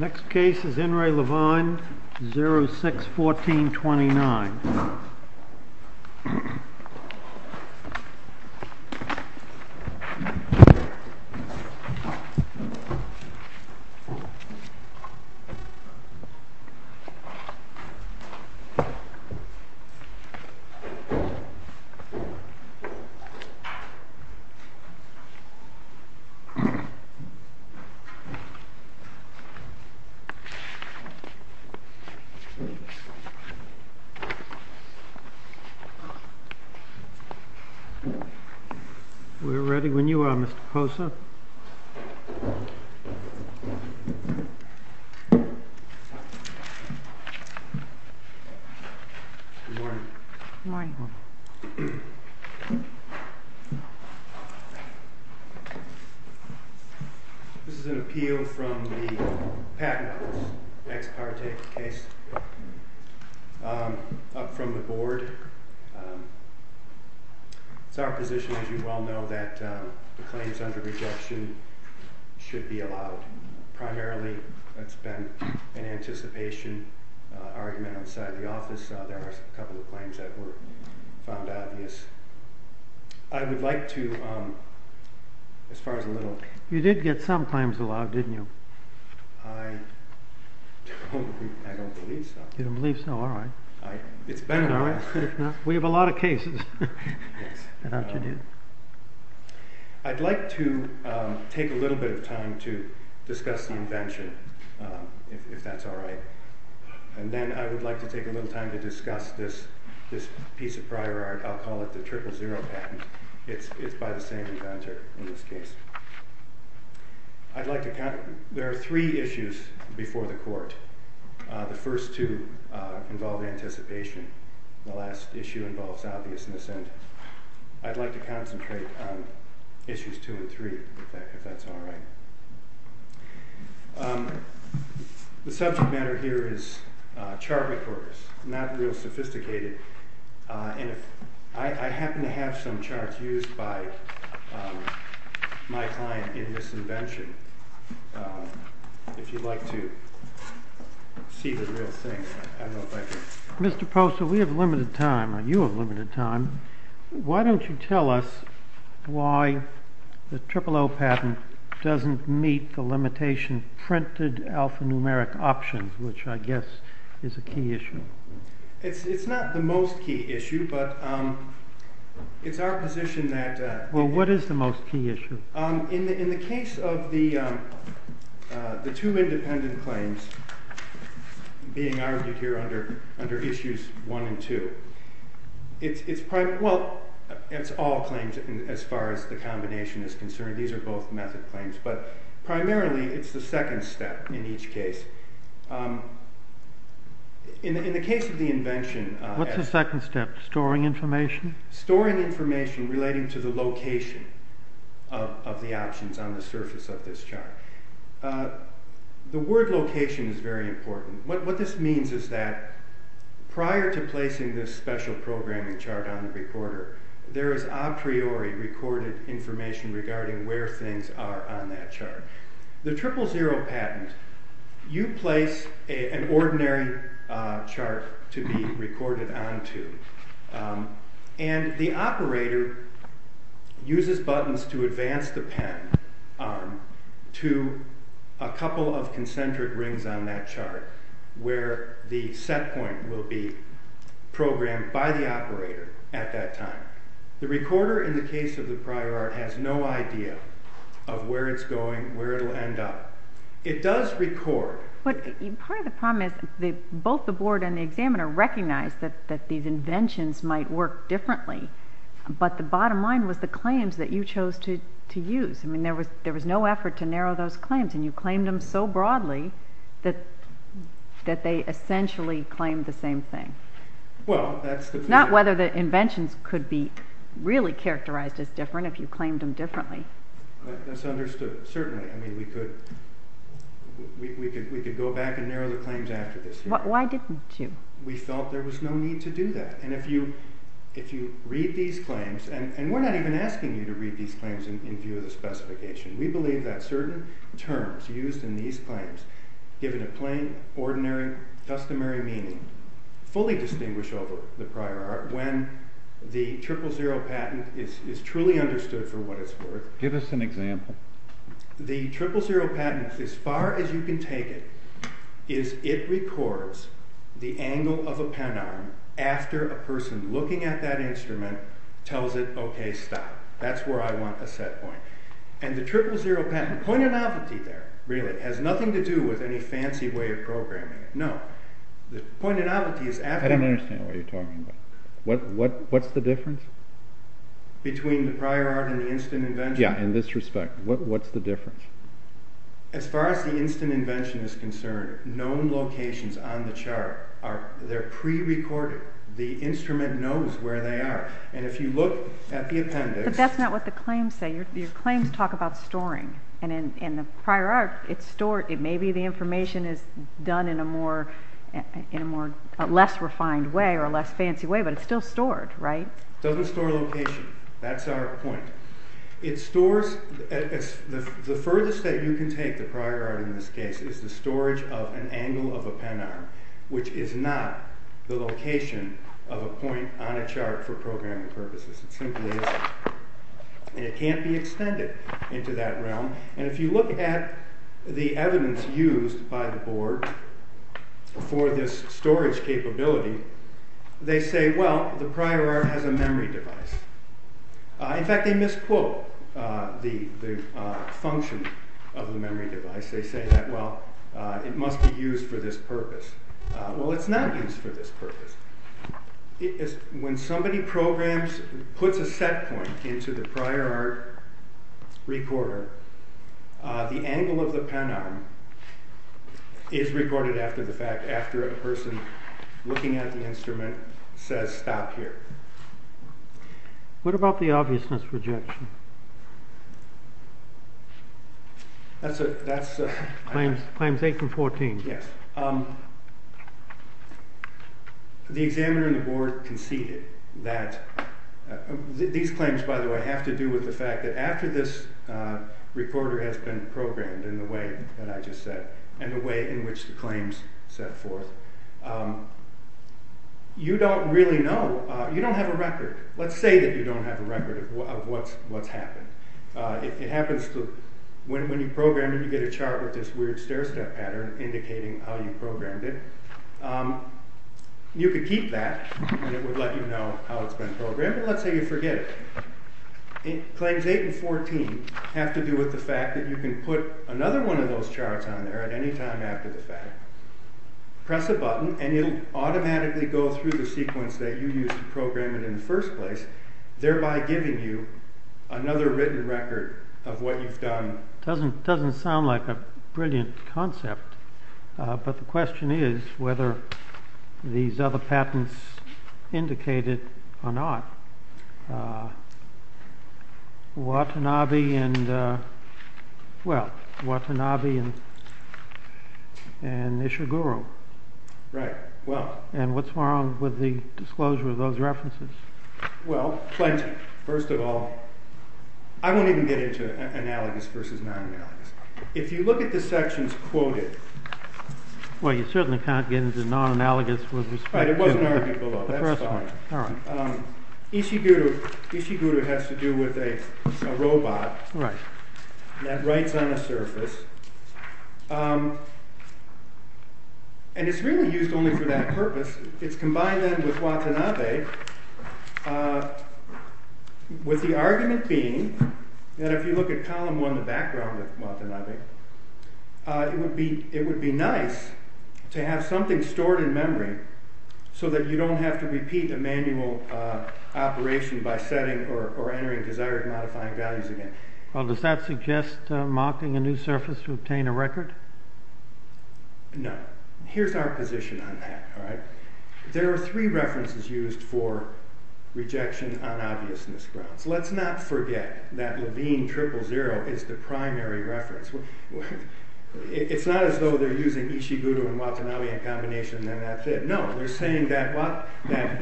Next case is In Re Levine, 06-14-29 We are ready when you are, Mr. Posa. Good morning. This is an appeal from the PACNAS ex parte case, up from the board. It's our position, as you well know, that the claims under rejection should be allowed. Primarily, it's been an anticipation argument outside the office. There are a couple of claims that were found obvious. I would like to, as far as a little... You did get some claims allowed, didn't you? I don't believe so. You don't believe so? All right. It's been a while. We have a lot of cases. Yes. I'd like to take a little bit of time to discuss the invention, if that's all right. And then I would like to take a little time to discuss this piece of prior art. I'll call it the triple zero patent. It's by the same inventor in this case. There are three issues before the court. The first two involve anticipation. The last issue involves obviousness. And I'd like to concentrate on issues two and three, if that's all right. The subject matter here is chart records. Not real sophisticated. And I happen to have some charts used by my client in this invention. If you'd like to see the real thing, I don't know if I can... Mr. Posa, we have limited time, or you have limited time. Why don't you tell us why the triple zero patent doesn't meet the limitation printed alphanumeric options, which I guess is a key issue. It's not the most key issue, but it's our position that... Well, what is the most key issue? In the case of the two independent claims being argued here under issues one and two, it's all claims as far as the combination is concerned. These are both method claims, but primarily it's the second step in each case. In the case of the invention... What's the second step? Storing information? Storing information relating to the location of the options on the surface of this chart. The word location is very important. What this means is that prior to placing this special programming chart on the recorder, there is a priori recorded information regarding where things are on that chart. The triple zero patent, you place an ordinary chart to be recorded onto, and the operator uses buttons to advance the pen to a couple of concentric rings on that chart, where the set point will be programmed by the operator at that time. The recorder, in the case of the priori, has no idea of where it's going, where it'll end up. It does record... Part of the problem is that both the board and the examiner recognized that these inventions might work differently, but the bottom line was the claims that you chose to use. There was no effort to narrow those claims, and you claimed them so broadly that they essentially claimed the same thing. Not whether the inventions could be really characterized as different if you claimed them differently. That's understood, certainly. We could go back and narrow the claims after this. Why didn't you? We felt there was no need to do that. If you read these claims, and we're not even asking you to read these claims in view of the specification. We believe that certain terms used in these claims, given a plain, ordinary, customary meaning, fully distinguish over the prior art when the triple zero patent is truly understood for what it's worth. Give us an example. The triple zero patent, as far as you can take it, is it records the angle of a pen arm after a person looking at that instrument tells it, OK, stop. That's where I want a set point. And the triple zero patent, point of novelty there, really, has nothing to do with any fancy way of programming it. No. The point of novelty is... I don't understand what you're talking about. What's the difference? Between the prior art and the instant invention? Yeah, in this respect. What's the difference? As far as the instant invention is concerned, known locations on the chart are pre-recorded. The instrument knows where they are. And if you look at the appendix... But that's not what the claims say. Your claims talk about storing. And in the prior art, it's stored. Maybe the information is done in a less refined way or a less fancy way, but it's still stored, right? It doesn't store location. That's our point. It stores... The furthest that you can take the prior art in this case is the storage of an angle of a pen arm, which is not the location of a point on a chart for programming purposes. It simply isn't. And it can't be extended into that realm. And if you look at the evidence used by the board for this storage capability, they say, well, the prior art has a memory device. In fact, they misquote the function of the memory device. They say that, well, it must be used for this purpose. Well, it's not used for this purpose. When somebody programs, puts a set point into the prior art recorder, the angle of the pen arm is recorded after the fact, after a person looking at the instrument says, stop here. What about the obviousness rejection? That's... Claims 8 and 14. Yes. The examiner and the board conceded that... These claims, by the way, have to do with the fact that after this recorder has been programmed in the way that I just said, and the way in which the claims set forth, you don't really know. You don't have a record. Let's say that you don't have a record of what's happened. It happens to... When you program it, you get a chart with this weird stair-step pattern indicating how you programmed it. You could keep that, and it would let you know how it's been programmed. But let's say you forget it. Claims 8 and 14 have to do with the fact that you can put another one of those charts on there at any time after the fact. Press a button, and it will automatically go through the sequence that you used to program it in the first place, thereby giving you another written record of what you've done. It doesn't sound like a brilliant concept, but the question is whether these other patents indicated or not. Watanabe and... Well, Watanabe and Ishiguro. Right, well... And what's wrong with the disclosure of those references? Well, plenty. First of all... I won't even get into analogous versus non-analogous. If you look at the sections quoted... Well, you certainly can't get into non-analogous with respect to... Right, it wasn't argued below. That's fine. Ishiguro has to do with a robot. That writes on a surface. And it's really used only for that purpose. It's combined then with Watanabe, with the argument being that if you look at column 1, the background of Watanabe, it would be nice to have something stored in memory, so that you don't have to repeat a manual operation by setting or entering desired modifying values again. Well, does that suggest marking a new surface to obtain a record? No. Here's our position on that. There are three references used for rejection on obviousness grounds. Let's not forget that Levine 000 is the primary reference. It's not as though they're using Ishiguro and Watanabe in combination, and then that's it. No, they're saying that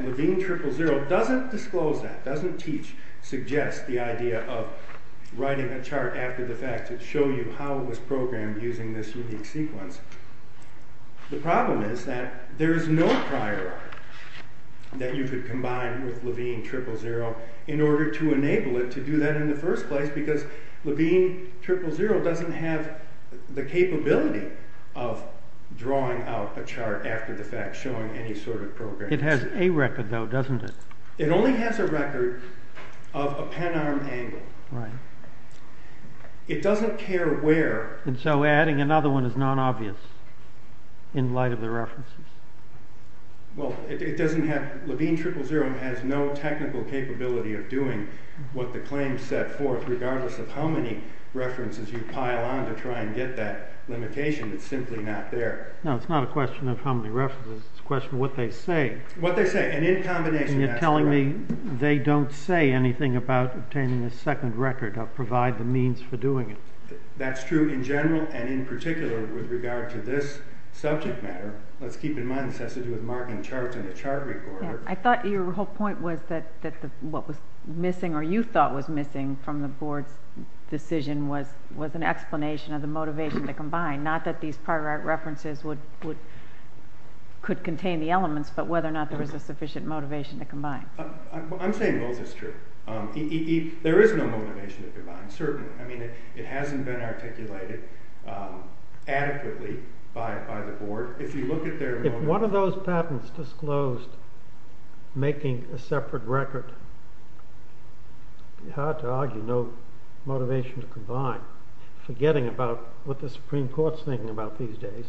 Levine 000 doesn't disclose that, doesn't teach, suggests the idea of writing a chart after the fact to show you how it was programmed using this unique sequence. The problem is that there is no prior art that you could combine with Levine 000 in order to enable it to do that in the first place, because Levine 000 doesn't have the capability of drawing out a chart after the fact, showing any sort of programming. It has a record, though, doesn't it? It only has a record of a pen-arm angle. It doesn't care where... And so adding another one is non-obvious in light of the references. Well, Levine 000 has no technical capability of doing what the claims set forth, regardless of how many references you pile on to try and get that limitation. It's simply not there. No, it's not a question of how many references. It's a question of what they say. What they say, and in combination... And you're telling me they don't say anything about obtaining a second record or provide the means for doing it. That's true in general and in particular with regard to this subject matter. Let's keep in mind this has to do with marking charts in a chart recorder. I thought your whole point was that what was missing, or you thought was missing, from the board's decision was an explanation of the motivation to combine. Not that these prior art references could contain the elements, but whether or not there was a sufficient motivation to combine. I'm saying both is true. There is no motivation to combine, certainly. I mean, it hasn't been articulated adequately by the board. If you look at their... If one of those patents disclosed making a separate record, it'd be hard to argue no motivation to combine, forgetting about what the Supreme Court's thinking about these days.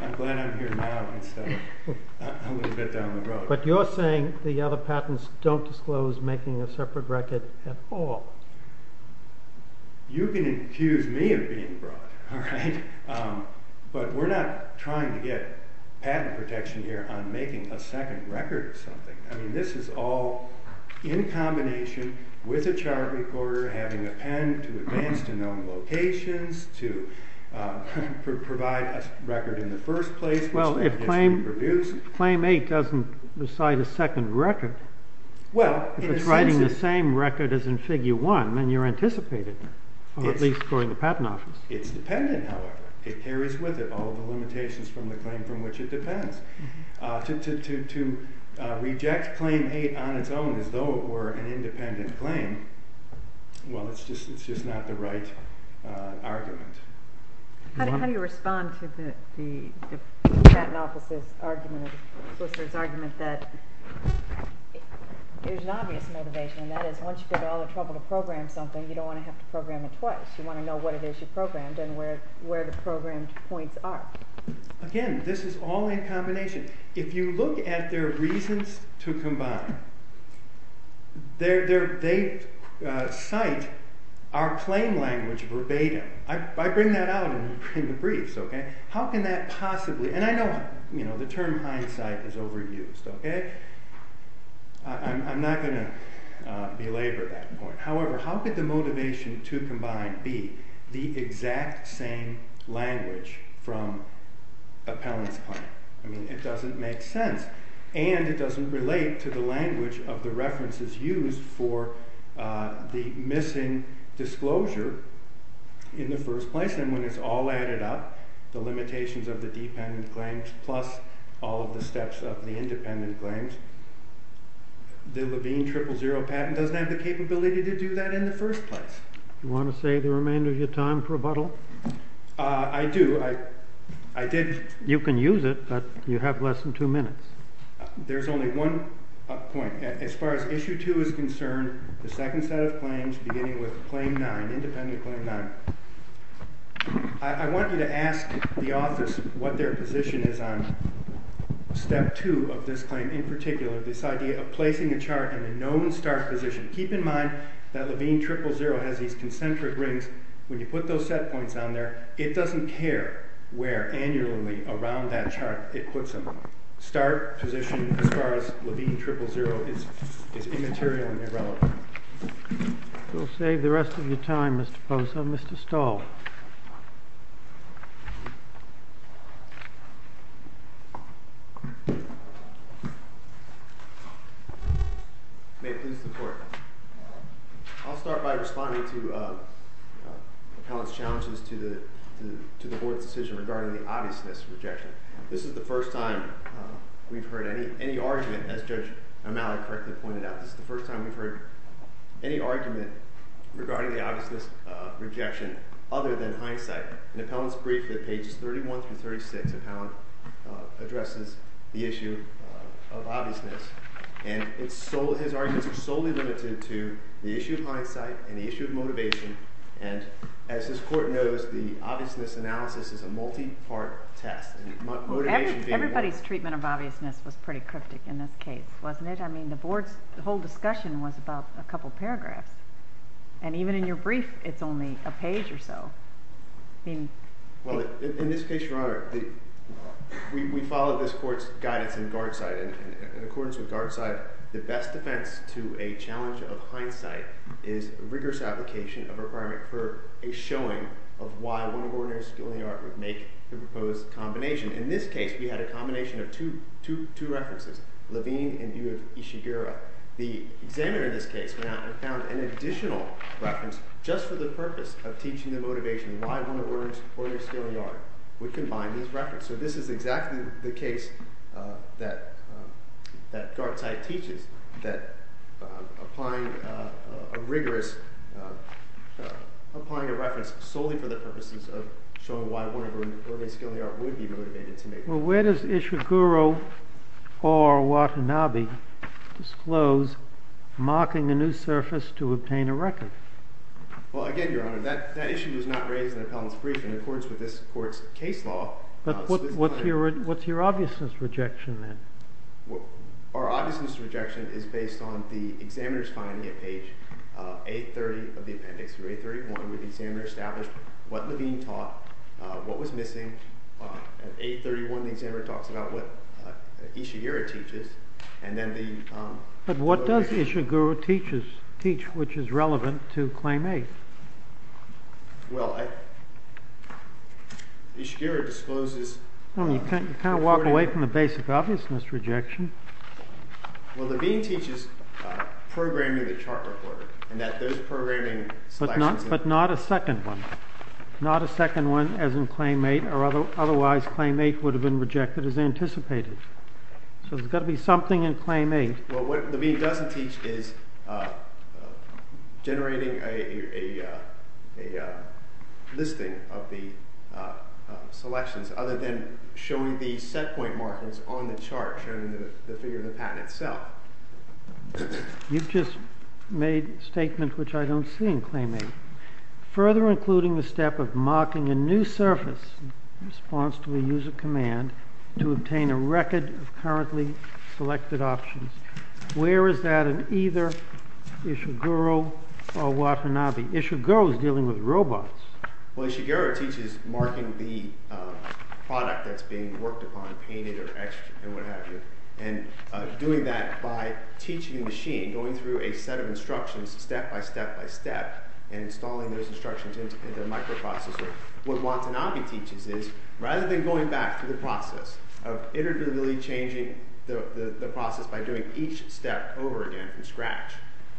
I'm glad I'm here now instead of a little bit down the road. But you're saying the other patents don't disclose making a separate record at all. You can accuse me of being broad, alright? But we're not trying to get patent protection here on making a second record or something. I mean, this is all in combination with a chart recorder, having a pen to advance to known locations, to provide a record in the first place. Well, if claim 8 doesn't decide a second record, if it's writing the same record as in figure 1, then you're anticipated, or at least according to the patent office. It's dependent, however. It carries with it all the limitations from the claim from which it depends. To reject claim 8 on its own as though it were an independent claim, well, it's just not the right argument. How do you respond to the patent office's argument, the solicitor's argument that there's an obvious motivation, and that is once you get all the trouble to program something, you don't want to have to program it twice. You want to know what it is you programmed and where the programmed points are. Again, this is all in combination. If you look at their reasons to combine, they cite our claim language verbatim. I bring that out in the briefs. How can that possibly... And I know the term hindsight is overused. I'm not going to belabor that point. However, how could the motivation to combine be the exact same language from appellant's point? It doesn't make sense. And it doesn't relate to the language of the references used for the missing disclosure in the first place. And when it's all added up, the limitations of the dependent claims plus all of the steps of the independent claims, the Levine triple zero patent doesn't have the capability to do that in the first place. You want to save the remainder of your time for rebuttal? I do. You can use it, but you have less than two minutes. There's only one point. As far as issue two is concerned, the second set of claims beginning with claim nine, independent claim nine. I want you to ask the office what their position is on step two of this claim in particular, this idea of placing a chart in a known start position. Keep in mind that Levine triple zero has these concentric rings. When you put those set points on there, it doesn't care where annually around that chart it puts them. Start position as far as Levine triple zero is immaterial and irrelevant. We'll save the rest of your time, Mr. Pozo. Mr. Stahl. May it please the court. I'll start by responding to Appellant's challenges to the board's decision regarding the obviousness rejection. This is the first time we've heard any argument, as Judge Amali correctly pointed out, this is the first time we've heard any argument regarding the obviousness rejection other than hindsight. In Appellant's brief, pages 31 through 36, Appellant addresses the issue of obviousness. And his arguments are solely limited to the issue of hindsight and the issue of motivation. And as this court knows, the obviousness analysis is a multi-part test. Everybody's treatment of obviousness was pretty cryptic in this case, wasn't it? I mean, the board's whole discussion was about a couple paragraphs. And even in your brief, it's only a page or so. Well, in this case, Your Honor, we followed this court's guidance in Garzide. In accordance with Garzide, the best defense to a challenge of hindsight is rigorous application of a requirement for a showing of why one ordinary skill in the art would make the proposed combination. In this case, we had a combination of two references, Levine and view of Ishiguro. The examiner in this case went out and found an additional reference just for the purpose of teaching the motivation why one ordinary skill in the art would combine these references. So this is exactly the case that Garzide teaches, that applying a reference solely for the purposes of showing why one ordinary skill in the art would be motivated to make it. Well, where does Ishiguro or Watanabe disclose marking a new surface to obtain a record? Well, again, Your Honor, that issue was not raised in the appellant's brief in accordance with this court's case law. But what's your obviousness rejection, then? Our obviousness rejection is based on the examiner's finding at page 830 of the appendix. Through 831, the examiner established what Levine taught, what was missing. At 831, the examiner talks about what Ishiguro teaches. But what does Ishiguro teach which is relevant to Claim 8? Well, Ishiguro discloses... You kind of walk away from the basic obviousness rejection. Well, Levine teaches programming the chart recorder. But not a second one. Not a second one as in Claim 8, or otherwise Claim 8 would have been rejected as anticipated. So there's got to be something in Claim 8. Well, what Levine doesn't teach is generating a listing of the selections, other than showing the set point markings on the chart, showing the figure of the patent itself. You've just made a statement which I don't see in Claim 8. Further including the step of marking a new surface in response to a user command to obtain a record of currently selected options. Where is that in either Ishiguro or Watanabe? Ishiguro is dealing with robots. Well, Ishiguro teaches marking the product that's being worked upon, painted or etched and what have you. And doing that by teaching a machine, going through a set of instructions, step by step by step, and installing those instructions into a microprocessor. What Watanabe teaches is, rather than going back through the process of iteratively changing the process by doing each step over again from scratch,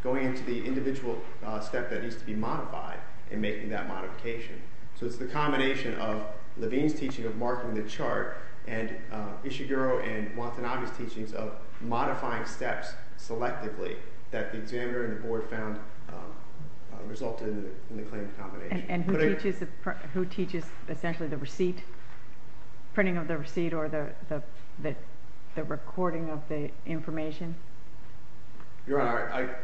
going into the individual step that needs to be modified and making that modification. So it's the combination of Levine's teaching of marking the chart and Ishiguro and Watanabe's teachings of modifying steps selectively that the examiner and the board found resulted in the claimed combination. And who teaches essentially the receipt? Printing of the receipt or the recording of the information? Your Honor,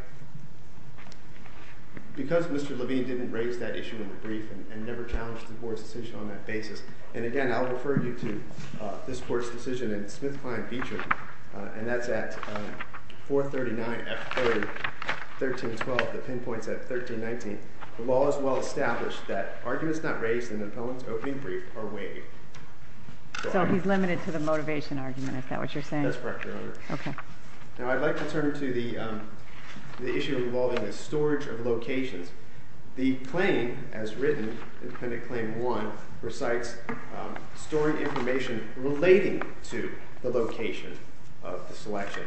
because Mr. Levine didn't raise that issue in the brief and never challenged the board's decision on that basis, and again I'll refer you to this board's decision in the Smith-Kline feature, and that's at 439, F30, 1312. The pinpoint's at 1319. The law is well established that arguments not raised in the poem's opening brief are waived. So he's limited to the motivation argument, is that what you're saying? That's correct, Your Honor. Now I'd like to turn to the issue involving the storage of locations. The claim, as written in Appendix Claim 1, recites storing information relating to the location of the selection.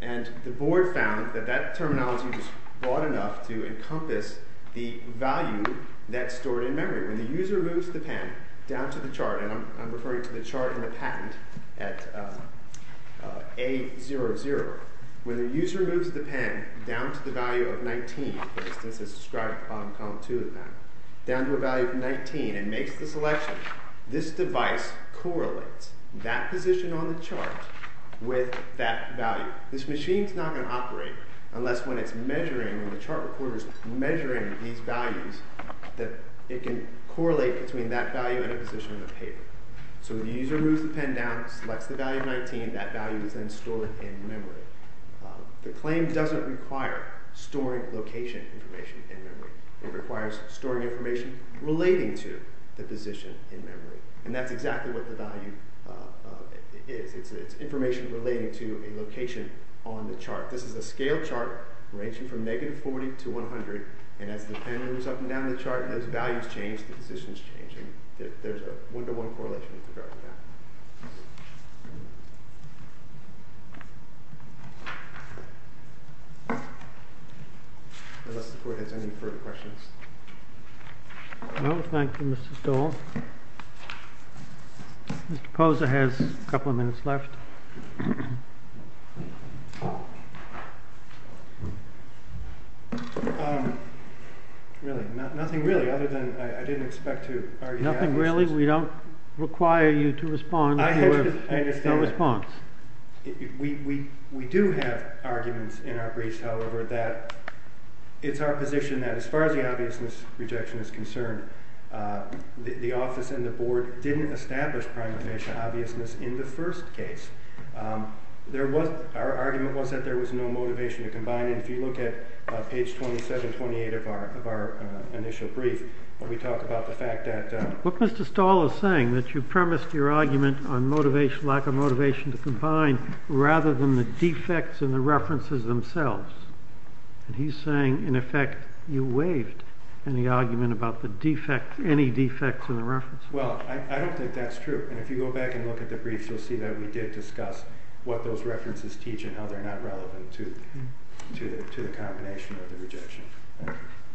And the board found that that terminology was broad enough to encompass the value that's stored in memory. When the user moves the pen down to the chart, and I'm referring to the chart in the patent at A00, when the user moves the pen down to the value of 19, for instance as described in column 2 of the patent, down to a value of 19 and makes the selection, this device correlates that position on the chart with that value. This machine's not going to operate unless when it's measuring, when the chart recorder's measuring these values, that it can correlate between that value and a position in the paper. So the user moves the pen down, selects the value of 19, that value is then stored in memory. The claim doesn't require storing location information in memory. It requires storing information relating to the position in memory. And that's exactly what the value is. It's information relating to a location on the chart. This is a scale chart ranging from negative 40 to 100, and as the pen moves up and down the chart, as values change, the positions change, and there's a one-to-one correlation with regard to that. Any further questions? No, thank you, Mr. Stoll. Mr. Poser has a couple of minutes left. Really, nothing really other than I didn't expect to... We don't require you to respond. I understand. We do have arguments in our briefs, however, that it's our position that as far as the obviousness rejection is concerned, the office and the board didn't establish prime official obviousness in the first case. Our argument was that there was no motivation to combine it. If you look at page 27, 28 of our initial brief, when we talk about the fact that... But Mr. Stoll is saying that you premised your argument on motivation, lack of motivation to combine, rather than the defects in the references themselves. He's saying, in effect, you waived any argument about the defect, any defects in the references. Well, I don't think that's true. And if you go back and look at the briefs, you'll see that we did discuss what those references teach and how they're not relevant to the combination of the rejection.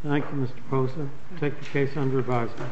Thank you, Mr. Posa. Take the case under advisory.